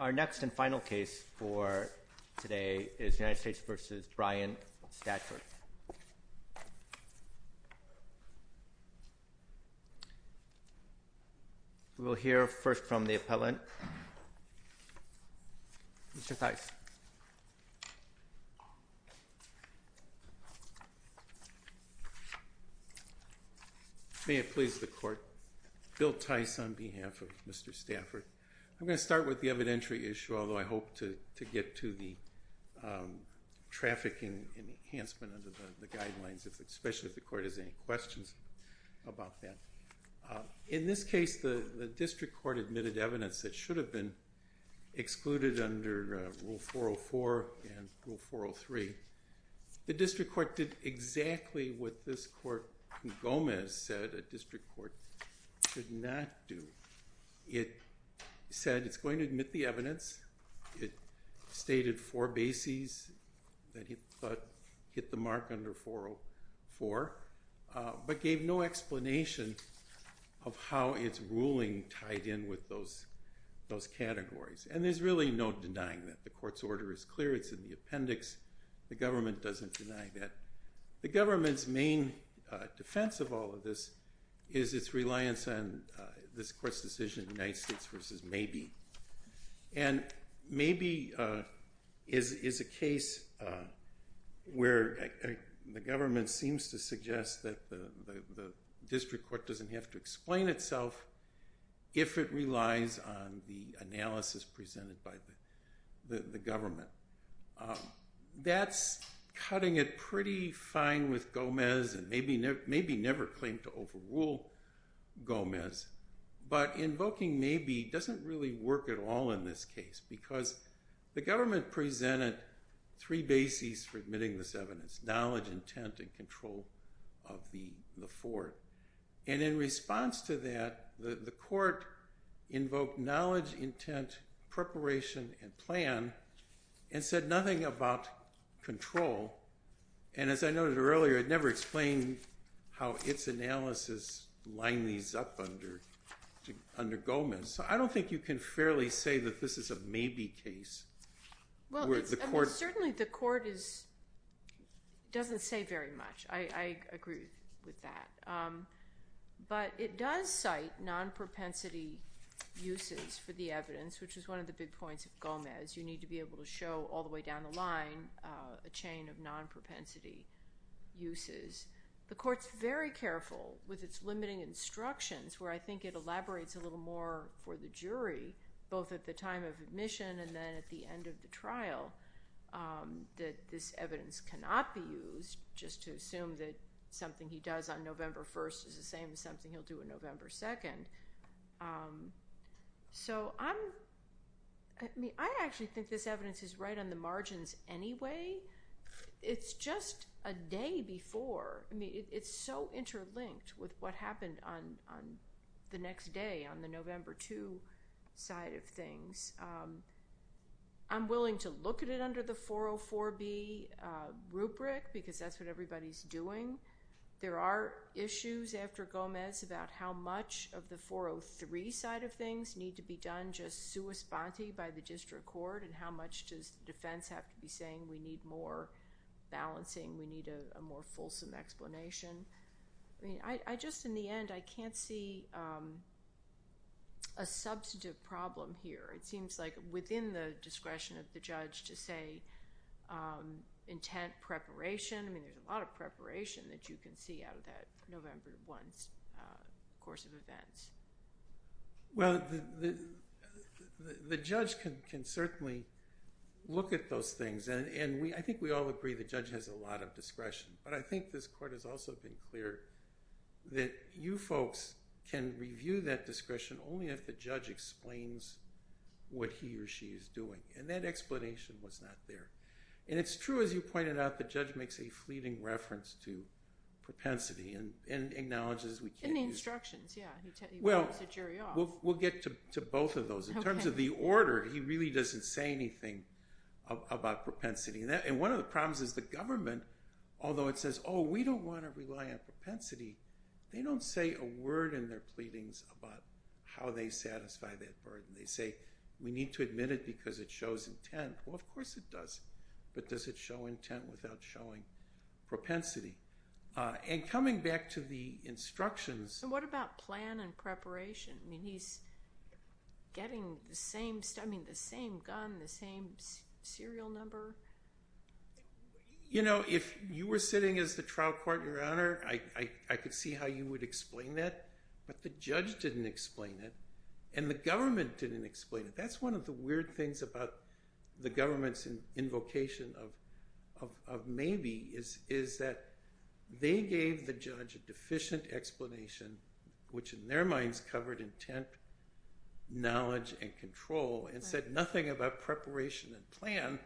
Our next and final case for today is United States v. Brian Stafford. We will hear first from the appellant, Mr. Theis. May it please the court, Bill Theis on behalf of Mr. Stafford. I'm going to start with the evidentiary issue, although I hope to get to the trafficking enhancement under the guidelines, especially if the court has any questions about that. In this case, the district court admitted evidence that should have been excluded under Rule 404 and Rule 403. The district court did exactly what this court, Gomez, said a district court should not do. It said it's going to admit the evidence. It stated four bases that it thought hit the mark under 404, but gave no explanation of how its ruling tied in with those categories. And there's really no denying that. The court's order is clear. It's in the appendix. The government doesn't deny that. The government's main defense of all of this is its reliance on this court's decision, United States v. Maybe. And Maybe is a case where the government seems to suggest that the district court doesn't have to explain itself if it relies on the analysis presented by the government. That's cutting it pretty fine with Gomez and maybe never claimed to overrule Gomez. But invoking Maybe doesn't really work at all in this case because the government presented three bases for admitting this evidence, knowledge, intent, and control of the Fort. And in response to that, the court invoked knowledge, intent, preparation, and plan and said nothing about control. And as I noted earlier, it never explained how its analysis lined these up under Gomez. So I don't think you can fairly say that this is a Maybe case. Well, certainly the court doesn't say very much. I agree with that. But it does cite non-propensity uses for the evidence, which is one of the big points of Gomez. You need to be able to show all the way down the line a chain of non-propensity uses. The court's very careful with its limiting instructions where I think it elaborates a little more for the jury, both at the time of admission and then at the end of the trial, that this evidence cannot be used just to assume that something he does on November 1st is the same as something he'll do on November 2nd. So I actually think this evidence is right on the margins anyway. It's just a day before. I mean, it's so interlinked with what happened on the next day on the November 2 side of things. I'm willing to look at it under the 404B rubric because that's what everybody's doing. There are issues after Gomez about how much of the 403 side of things need to be done just sua sponte by the district court and how much does defense have to be saying we need more balancing, we need a more fulsome explanation. I mean, I just in the end, I can't see a substantive problem here. It seems like within the discretion of the judge to say intent preparation. I mean, there's a lot of preparation that you can see out of that November 1st course of events. Well, the judge can certainly look at those things. And I think we all agree the judge has a lot of discretion. But I think this court has also been clear that you folks can review that discretion only if the judge explains what he or she is doing. And that explanation was not there. And it's true, as you pointed out, the judge makes a fleeting reference to propensity and acknowledges we can't use it. Well, we'll get to both of those. In terms of the order, he really doesn't say anything about propensity. And one of the problems is the government, although it says, oh, we don't want to rely on propensity, they don't say a word in their pleadings about how they satisfy that burden. They say we need to admit it because it shows intent. Well, of course it does. But does it show intent without showing propensity? And coming back to the instructions. And what about plan and preparation? I mean, he's getting the same gun, the same serial number. You know, if you were sitting as the trial court, Your Honor, I could see how you would explain that. But the judge didn't explain it. And the government didn't explain it. That's one of the weird things about the government's invocation of maybe is that they gave the judge a deficient explanation, which in their minds covered intent, knowledge, and control, and said nothing about preparation and plan.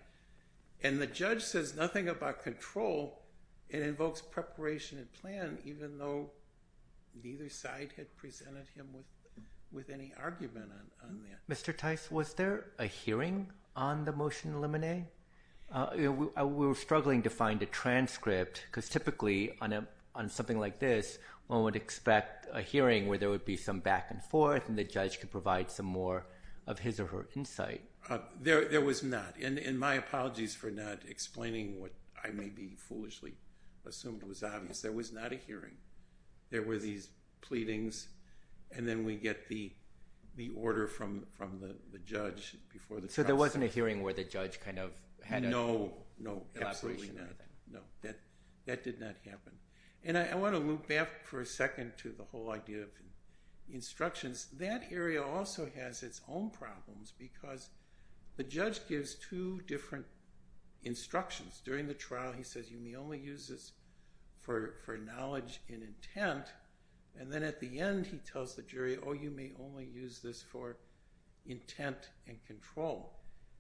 And the judge says nothing about control and invokes preparation and plan, even though neither side had presented him with any argument on that. Mr. Tice, was there a hearing on the motion in Lemonnier? We were struggling to find a transcript because typically on something like this, one would expect a hearing where there would be some back and forth and the judge could provide some more of his or her insight. There was not. And my apologies for not explaining what I may be foolishly assumed was obvious. There was not a hearing. There were these pleadings. And then we get the order from the judge before the trial started. So there wasn't a hearing where the judge kind of had an elaboration? No, no, absolutely not. No, that did not happen. And I want to loop back for a second to the whole idea of instructions. That area also has its own problems because the judge gives two different instructions. During the trial, he says you may only use this for knowledge and intent. And then at the end, he tells the jury, oh, you may only use this for intent and control.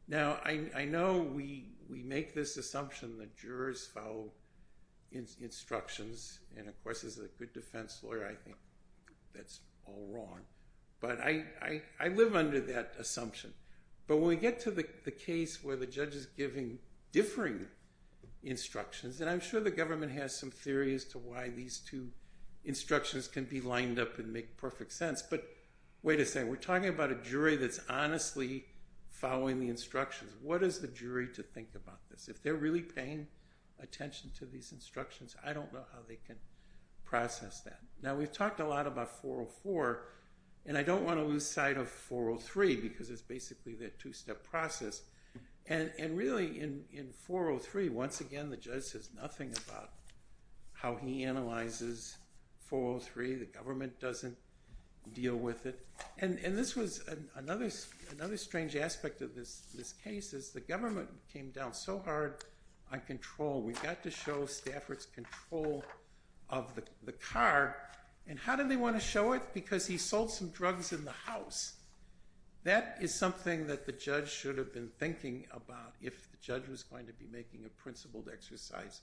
Now, I know we make this assumption that jurors follow instructions. And of course, as a good defense lawyer, I think that's all wrong. But I live under that assumption. But when we get to the case where the judge is giving differing instructions, and I'm sure the government has some theory as to why these two instructions can be lined up and make perfect sense. But wait a second, we're talking about a jury that's honestly following the instructions. What is the jury to think about this? If they're really paying attention to these instructions, I don't know how they can process that. Now, we've talked a lot about 404. And I don't want to lose sight of 403 because it's basically that two-step process. And really, in 403, once again, the judge says nothing about how he analyzes 403. The government doesn't deal with it. And this was another strange aspect of this case is the government came down so hard on control. We got to show Stafford's control of the car. And how did they want to show it? Because he sold some drugs in the house. That is something that the judge should have been thinking about if the judge was going to be making a principled exercise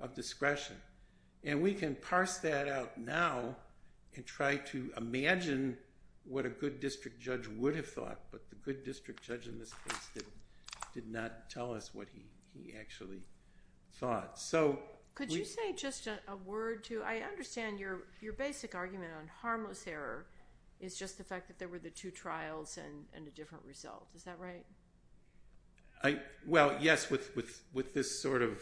of discretion. And we can parse that out now and try to imagine what a good district judge would have thought. But the good district judge in this case did not tell us what he actually thought. Could you say just a word, too? I understand your basic argument on harmless error is just the fact that there were the two trials and a different result. Is that right? Well, yes, with this sort of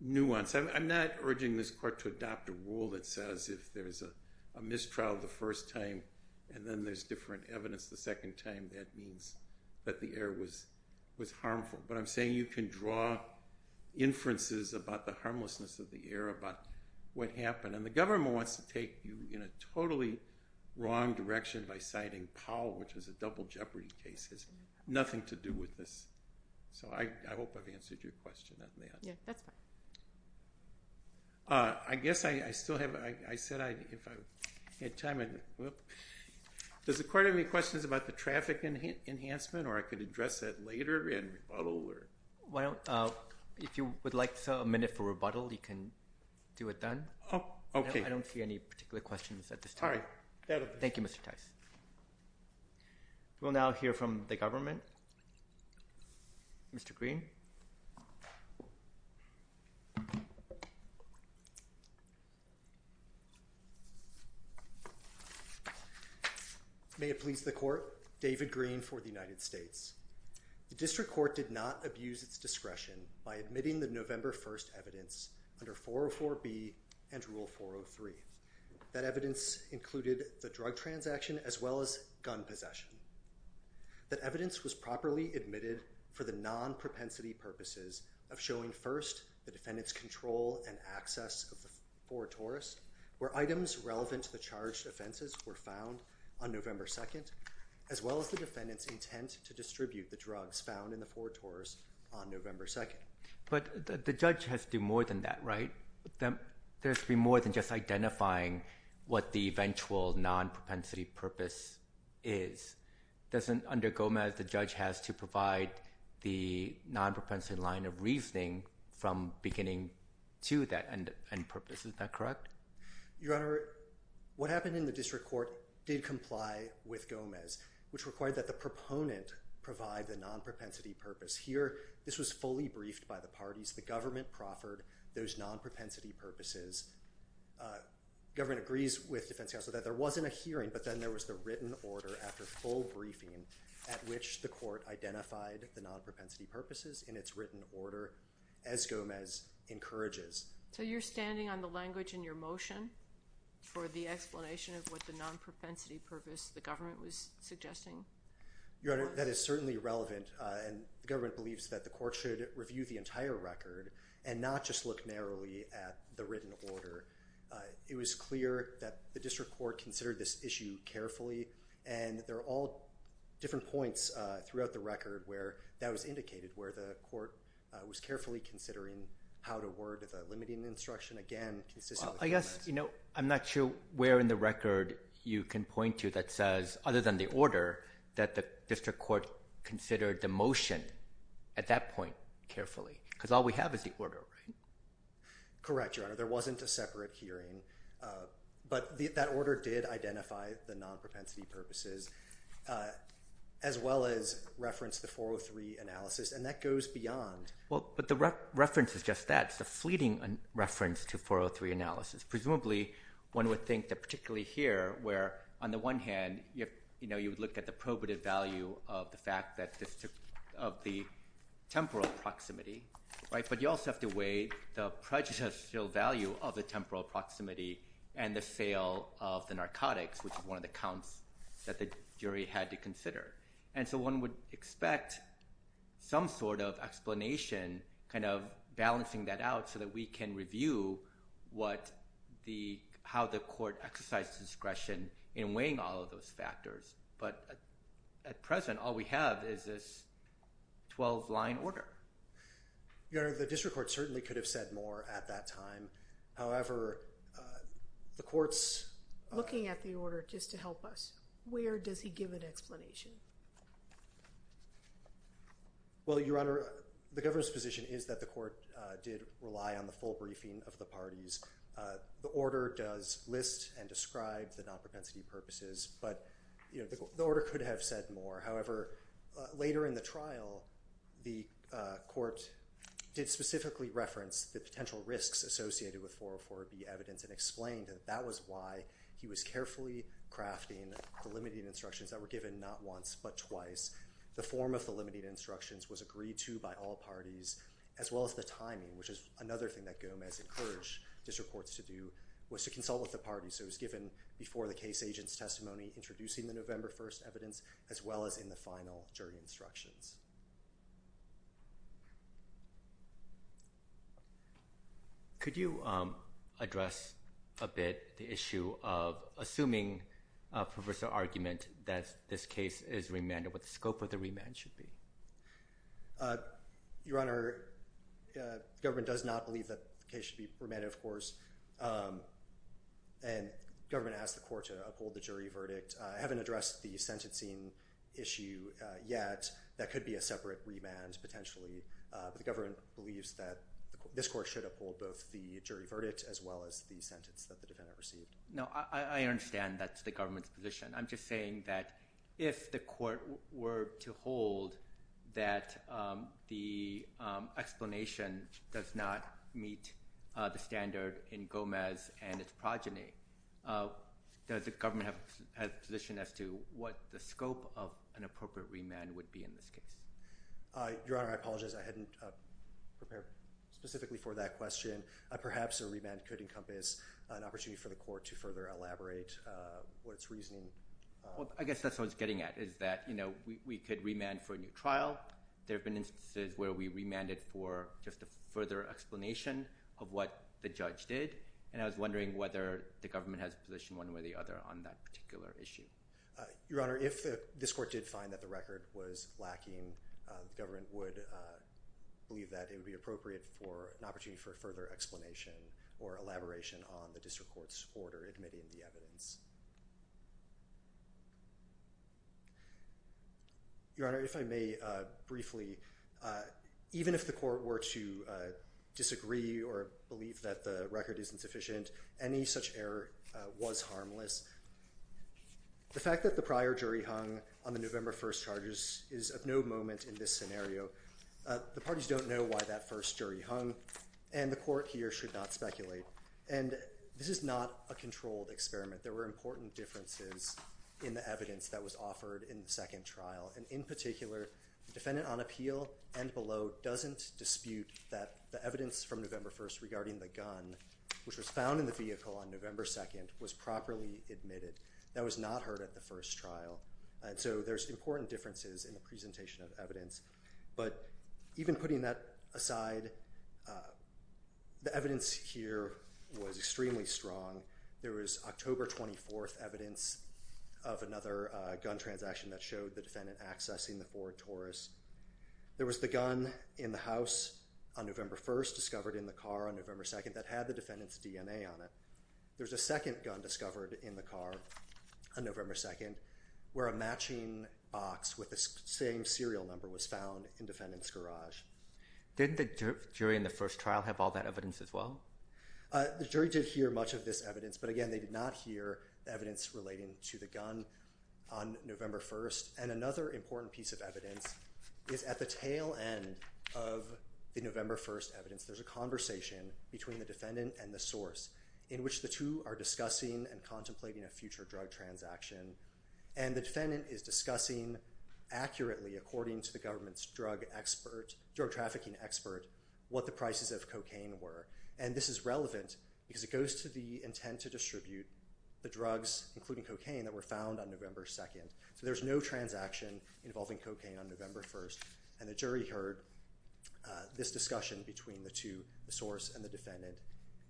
nuance. I'm not urging this court to adopt a rule that says if there's a mistrial the first time and then there's different evidence the second time, that means that the error was harmful. But I'm saying you can draw inferences about the harmlessness of the error, about what happened. And the government wants to take you in a totally wrong direction by citing Powell, which was a double jeopardy case. It has nothing to do with this. So I hope I've answered your question on that. Yeah, that's fine. I guess I still have – I said if I had time – Does the court have any questions about the traffic enhancement or I could address that later in rebuttal? Well, if you would like a minute for rebuttal, you can do it then. I don't see any particular questions at this time. All right. Thank you, Mr. Tice. We'll now hear from the government. Mr. Green. May it please the court, David Green for the United States. The district court did not abuse its discretion by admitting the November 1st evidence under 404B and Rule 403. That evidence included the drug transaction as well as gun possession. That evidence was properly admitted for the non-propensity purposes of showing first the defendant's control and access of the 4-Taurus, where items relevant to the charged offenses were found on November 2nd, as well as the defendant's intent to distribute the drugs found in the 4-Taurus on November 2nd. But the judge has to do more than that, right? There has to be more than just identifying what the eventual non-propensity purpose is. Under Gomez, the judge has to provide the non-propensity line of reasoning from beginning to that end purpose. Is that correct? Your Honor, what happened in the district court did comply with Gomez, which required that the proponent provide the non-propensity purpose. Here, this was fully briefed by the parties. The government proffered those non-propensity purposes. Government agrees with defense counsel that there wasn't a hearing, but then there was the written order after full briefing at which the court identified the non-propensity purposes in its written order, as Gomez encourages. So you're standing on the language in your motion for the explanation of what the non-propensity purpose the government was suggesting was? Your Honor, that is certainly relevant. The government believes that the court should review the entire record and not just look narrowly at the written order. It was clear that the district court considered this issue carefully, and there are all different points throughout the record where that was indicated, where the court was carefully considering how to word the limiting instruction again consistently. I guess I'm not sure where in the record you can point to that says, other than the order, that the district court considered the motion at that point carefully, because all we have is the order, right? Correct, Your Honor. There wasn't a separate hearing, but that order did identify the non-propensity purposes as well as reference the 403 analysis, and that goes beyond. Well, but the reference is just that. It's a fleeting reference to 403 analysis. Presumably, one would think that particularly here, where on the one hand, you would look at the probative value of the temporal proximity, but you also have to weigh the prejudicial value of the temporal proximity and the sale of the narcotics, which is one of the counts that the jury had to consider. And so one would expect some sort of explanation, kind of balancing that out, so that we can review how the court exercised discretion in weighing all of those factors. But at present, all we have is this 12-line order. Your Honor, the district court certainly could have said more at that time. However, the court's- Looking at the order just to help us, where does he give an explanation? Well, Your Honor, the government's position is that the court did rely on the full briefing of the parties. The order does list and describe the non-propensity purposes, but the order could have said more. However, later in the trial, the court did specifically reference the potential risks associated with 404B evidence and explained that that was why he was carefully crafting the limiting instructions that were given not once but twice. The form of the limiting instructions was agreed to by all parties, as well as the timing, which is another thing that Gomez encouraged district courts to do, was to consult with the parties. So it was given before the case agent's testimony, introducing the November 1st evidence, as well as in the final jury instructions. Could you address a bit the issue of assuming, Professor Argument, that this case is remanded, what the scope of the remand should be? Your Honor, the government does not believe that the case should be remanded, of course. And the government asked the court to uphold the jury verdict. I haven't addressed the sentencing issue yet. That could be a separate remand, potentially. But the government believes that this court should uphold both the jury verdict as well as the sentence that the defendant received. No, I understand that's the government's position. I'm just saying that if the court were to hold that the explanation does not meet the standard in Gomez and its progeny, does the government have a position as to what the scope of an appropriate remand would be in this case? Your Honor, I apologize. I hadn't prepared specifically for that question. Perhaps a remand could encompass an opportunity for the court to further elaborate what its reasoning. I guess that's what I was getting at, is that we could remand for a new trial. There have been instances where we remanded for just a further explanation of what the judge did. And I was wondering whether the government has a position one way or the other on that particular issue. Your Honor, if this court did find that the record was lacking, the government would believe that it would be appropriate for an opportunity for further explanation or elaboration on the district court's order admitting the evidence. Your Honor, if I may briefly, even if the court were to disagree or believe that the record isn't sufficient, any such error was harmless. The fact that the prior jury hung on the November 1st charges is of no moment in this scenario. The parties don't know why that first jury hung, and the court here should not speculate. And this is not a controlled experiment. There were important differences in the evidence that was offered in the second trial. And in particular, the defendant on appeal and below doesn't dispute that the evidence from November 1st regarding the gun, which was found in the vehicle on November 2nd, was properly admitted. That was not heard at the first trial. And so there's important differences in the presentation of evidence. But even putting that aside, the evidence here was extremely strong. There was October 24th evidence of another gun transaction that showed the defendant accessing the Ford Taurus. There was the gun in the house on November 1st discovered in the car on November 2nd that had the defendant's DNA on it. There was a second gun discovered in the car on November 2nd where a matching box with the same serial number was found in the defendant's garage. Did the jury in the first trial have all that evidence as well? The jury did hear much of this evidence, but again, they did not hear evidence relating to the gun on November 1st. And another important piece of evidence is at the tail end of the November 1st evidence, there's a conversation between the defendant and the source in which the two are discussing and contemplating a future drug transaction. And the defendant is discussing accurately, according to the government's drug trafficking expert, what the prices of cocaine were. And this is relevant because it goes to the intent to distribute the drugs, including cocaine, that were found on November 2nd. So there's no transaction involving cocaine on November 1st. And the jury heard this discussion between the two, the source and the defendant,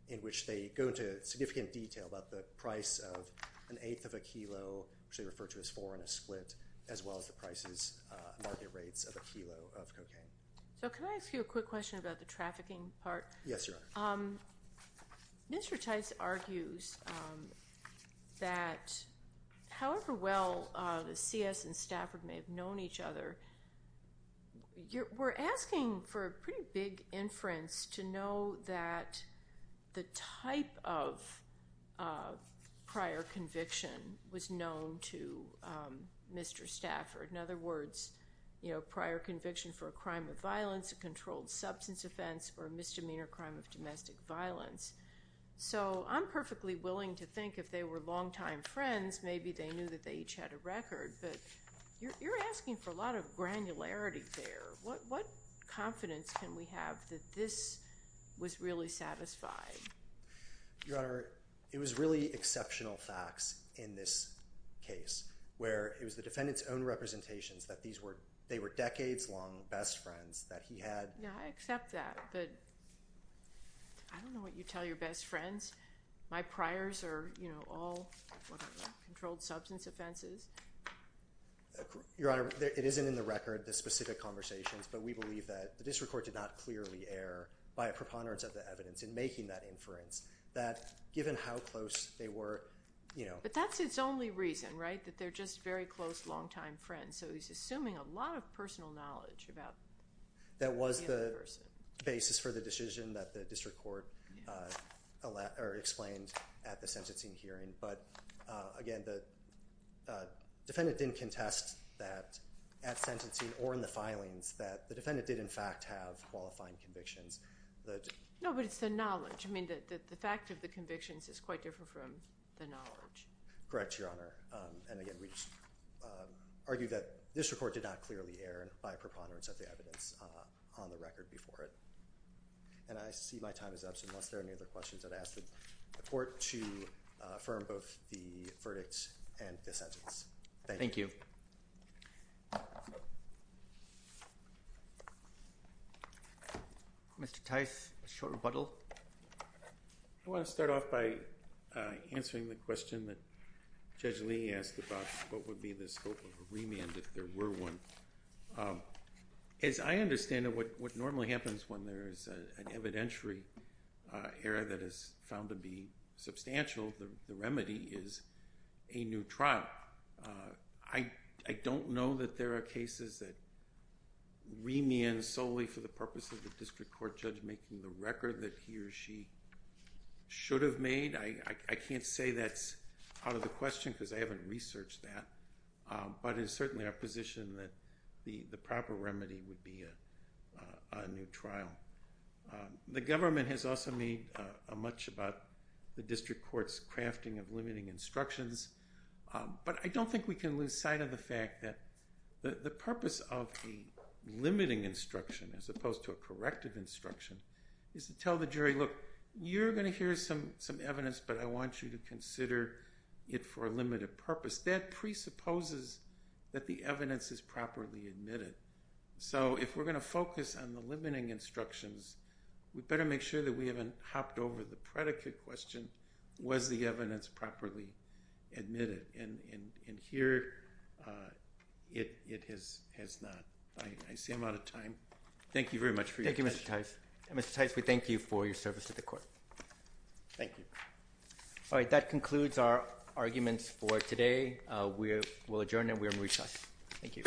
in which they go into significant detail about the price of an eighth of a kilo, which they refer to as four in a split, as well as the market rates of a kilo of cocaine. So can I ask you a quick question about the trafficking part? Yes, Your Honor. Mr. Tice argues that however well the CS and Stafford may have known each other, we're asking for a pretty big inference to know that the type of prior conviction was known to Mr. Stafford. In other words, prior conviction for a crime of violence, a controlled substance offense, or a misdemeanor crime of domestic violence. So I'm perfectly willing to think if they were longtime friends, maybe they knew that they each had a record. But you're asking for a lot of granularity there. What confidence can we have that this was really satisfied? Your Honor, it was really exceptional facts in this case, where it was the defendant's own representations that they were decades-long best friends that he had. Yeah, I accept that. But I don't know what you tell your best friends. My priors are all controlled substance offenses. Your Honor, it isn't in the record, the specific conversations, but we believe that the district court did not clearly err by a preponderance of the evidence in making that inference, that given how close they were. But that's its only reason, right, that they're just very close longtime friends. So he's assuming a lot of personal knowledge about the other person. That was the basis for the decision that the district court explained at the sentencing hearing. But again, the defendant didn't contest that at sentencing or in the filings that the defendant did, in fact, have qualifying convictions. No, but it's the knowledge. I mean, the fact of the convictions is quite different from the knowledge. Correct, Your Honor. And again, we just argue that the district court did not clearly err by a preponderance of the evidence on the record before it. And I see my time is up. Unless there are any other questions, I'd ask the court to affirm both the verdict and the sentence. Thank you. Mr. Tice, a short rebuttal. I want to start off by answering the question that Judge Lee asked about what would be the scope of a remand if there were one. As I understand it, what normally happens when there is an evidentiary error that is found to be substantial, the remedy is a new trial. I don't know that there are cases that remand solely for the purpose of the district court judge making the record that he or she should have made. I can't say that's out of the question because I haven't researched that. But it's certainly our position that the proper remedy would be a new trial. The government has also made much about the district court's crafting of limiting instructions. But I don't think we can lose sight of the fact that the purpose of a limiting instruction as opposed to a corrective instruction is to tell the jury, look, you're going to hear some evidence, but I want you to consider it for a limited purpose. That presupposes that the evidence is properly admitted. So if we're going to focus on the limiting instructions, we better make sure that we haven't hopped over the predicate question, was the evidence properly admitted? And here, it has not. I see I'm out of time. Thank you very much for your question. Thank you, Mr. Tice. Mr. Tice, we thank you for your service to the court. Thank you. All right. That concludes our arguments for today. We will adjourn, and we are in recess. Thank you.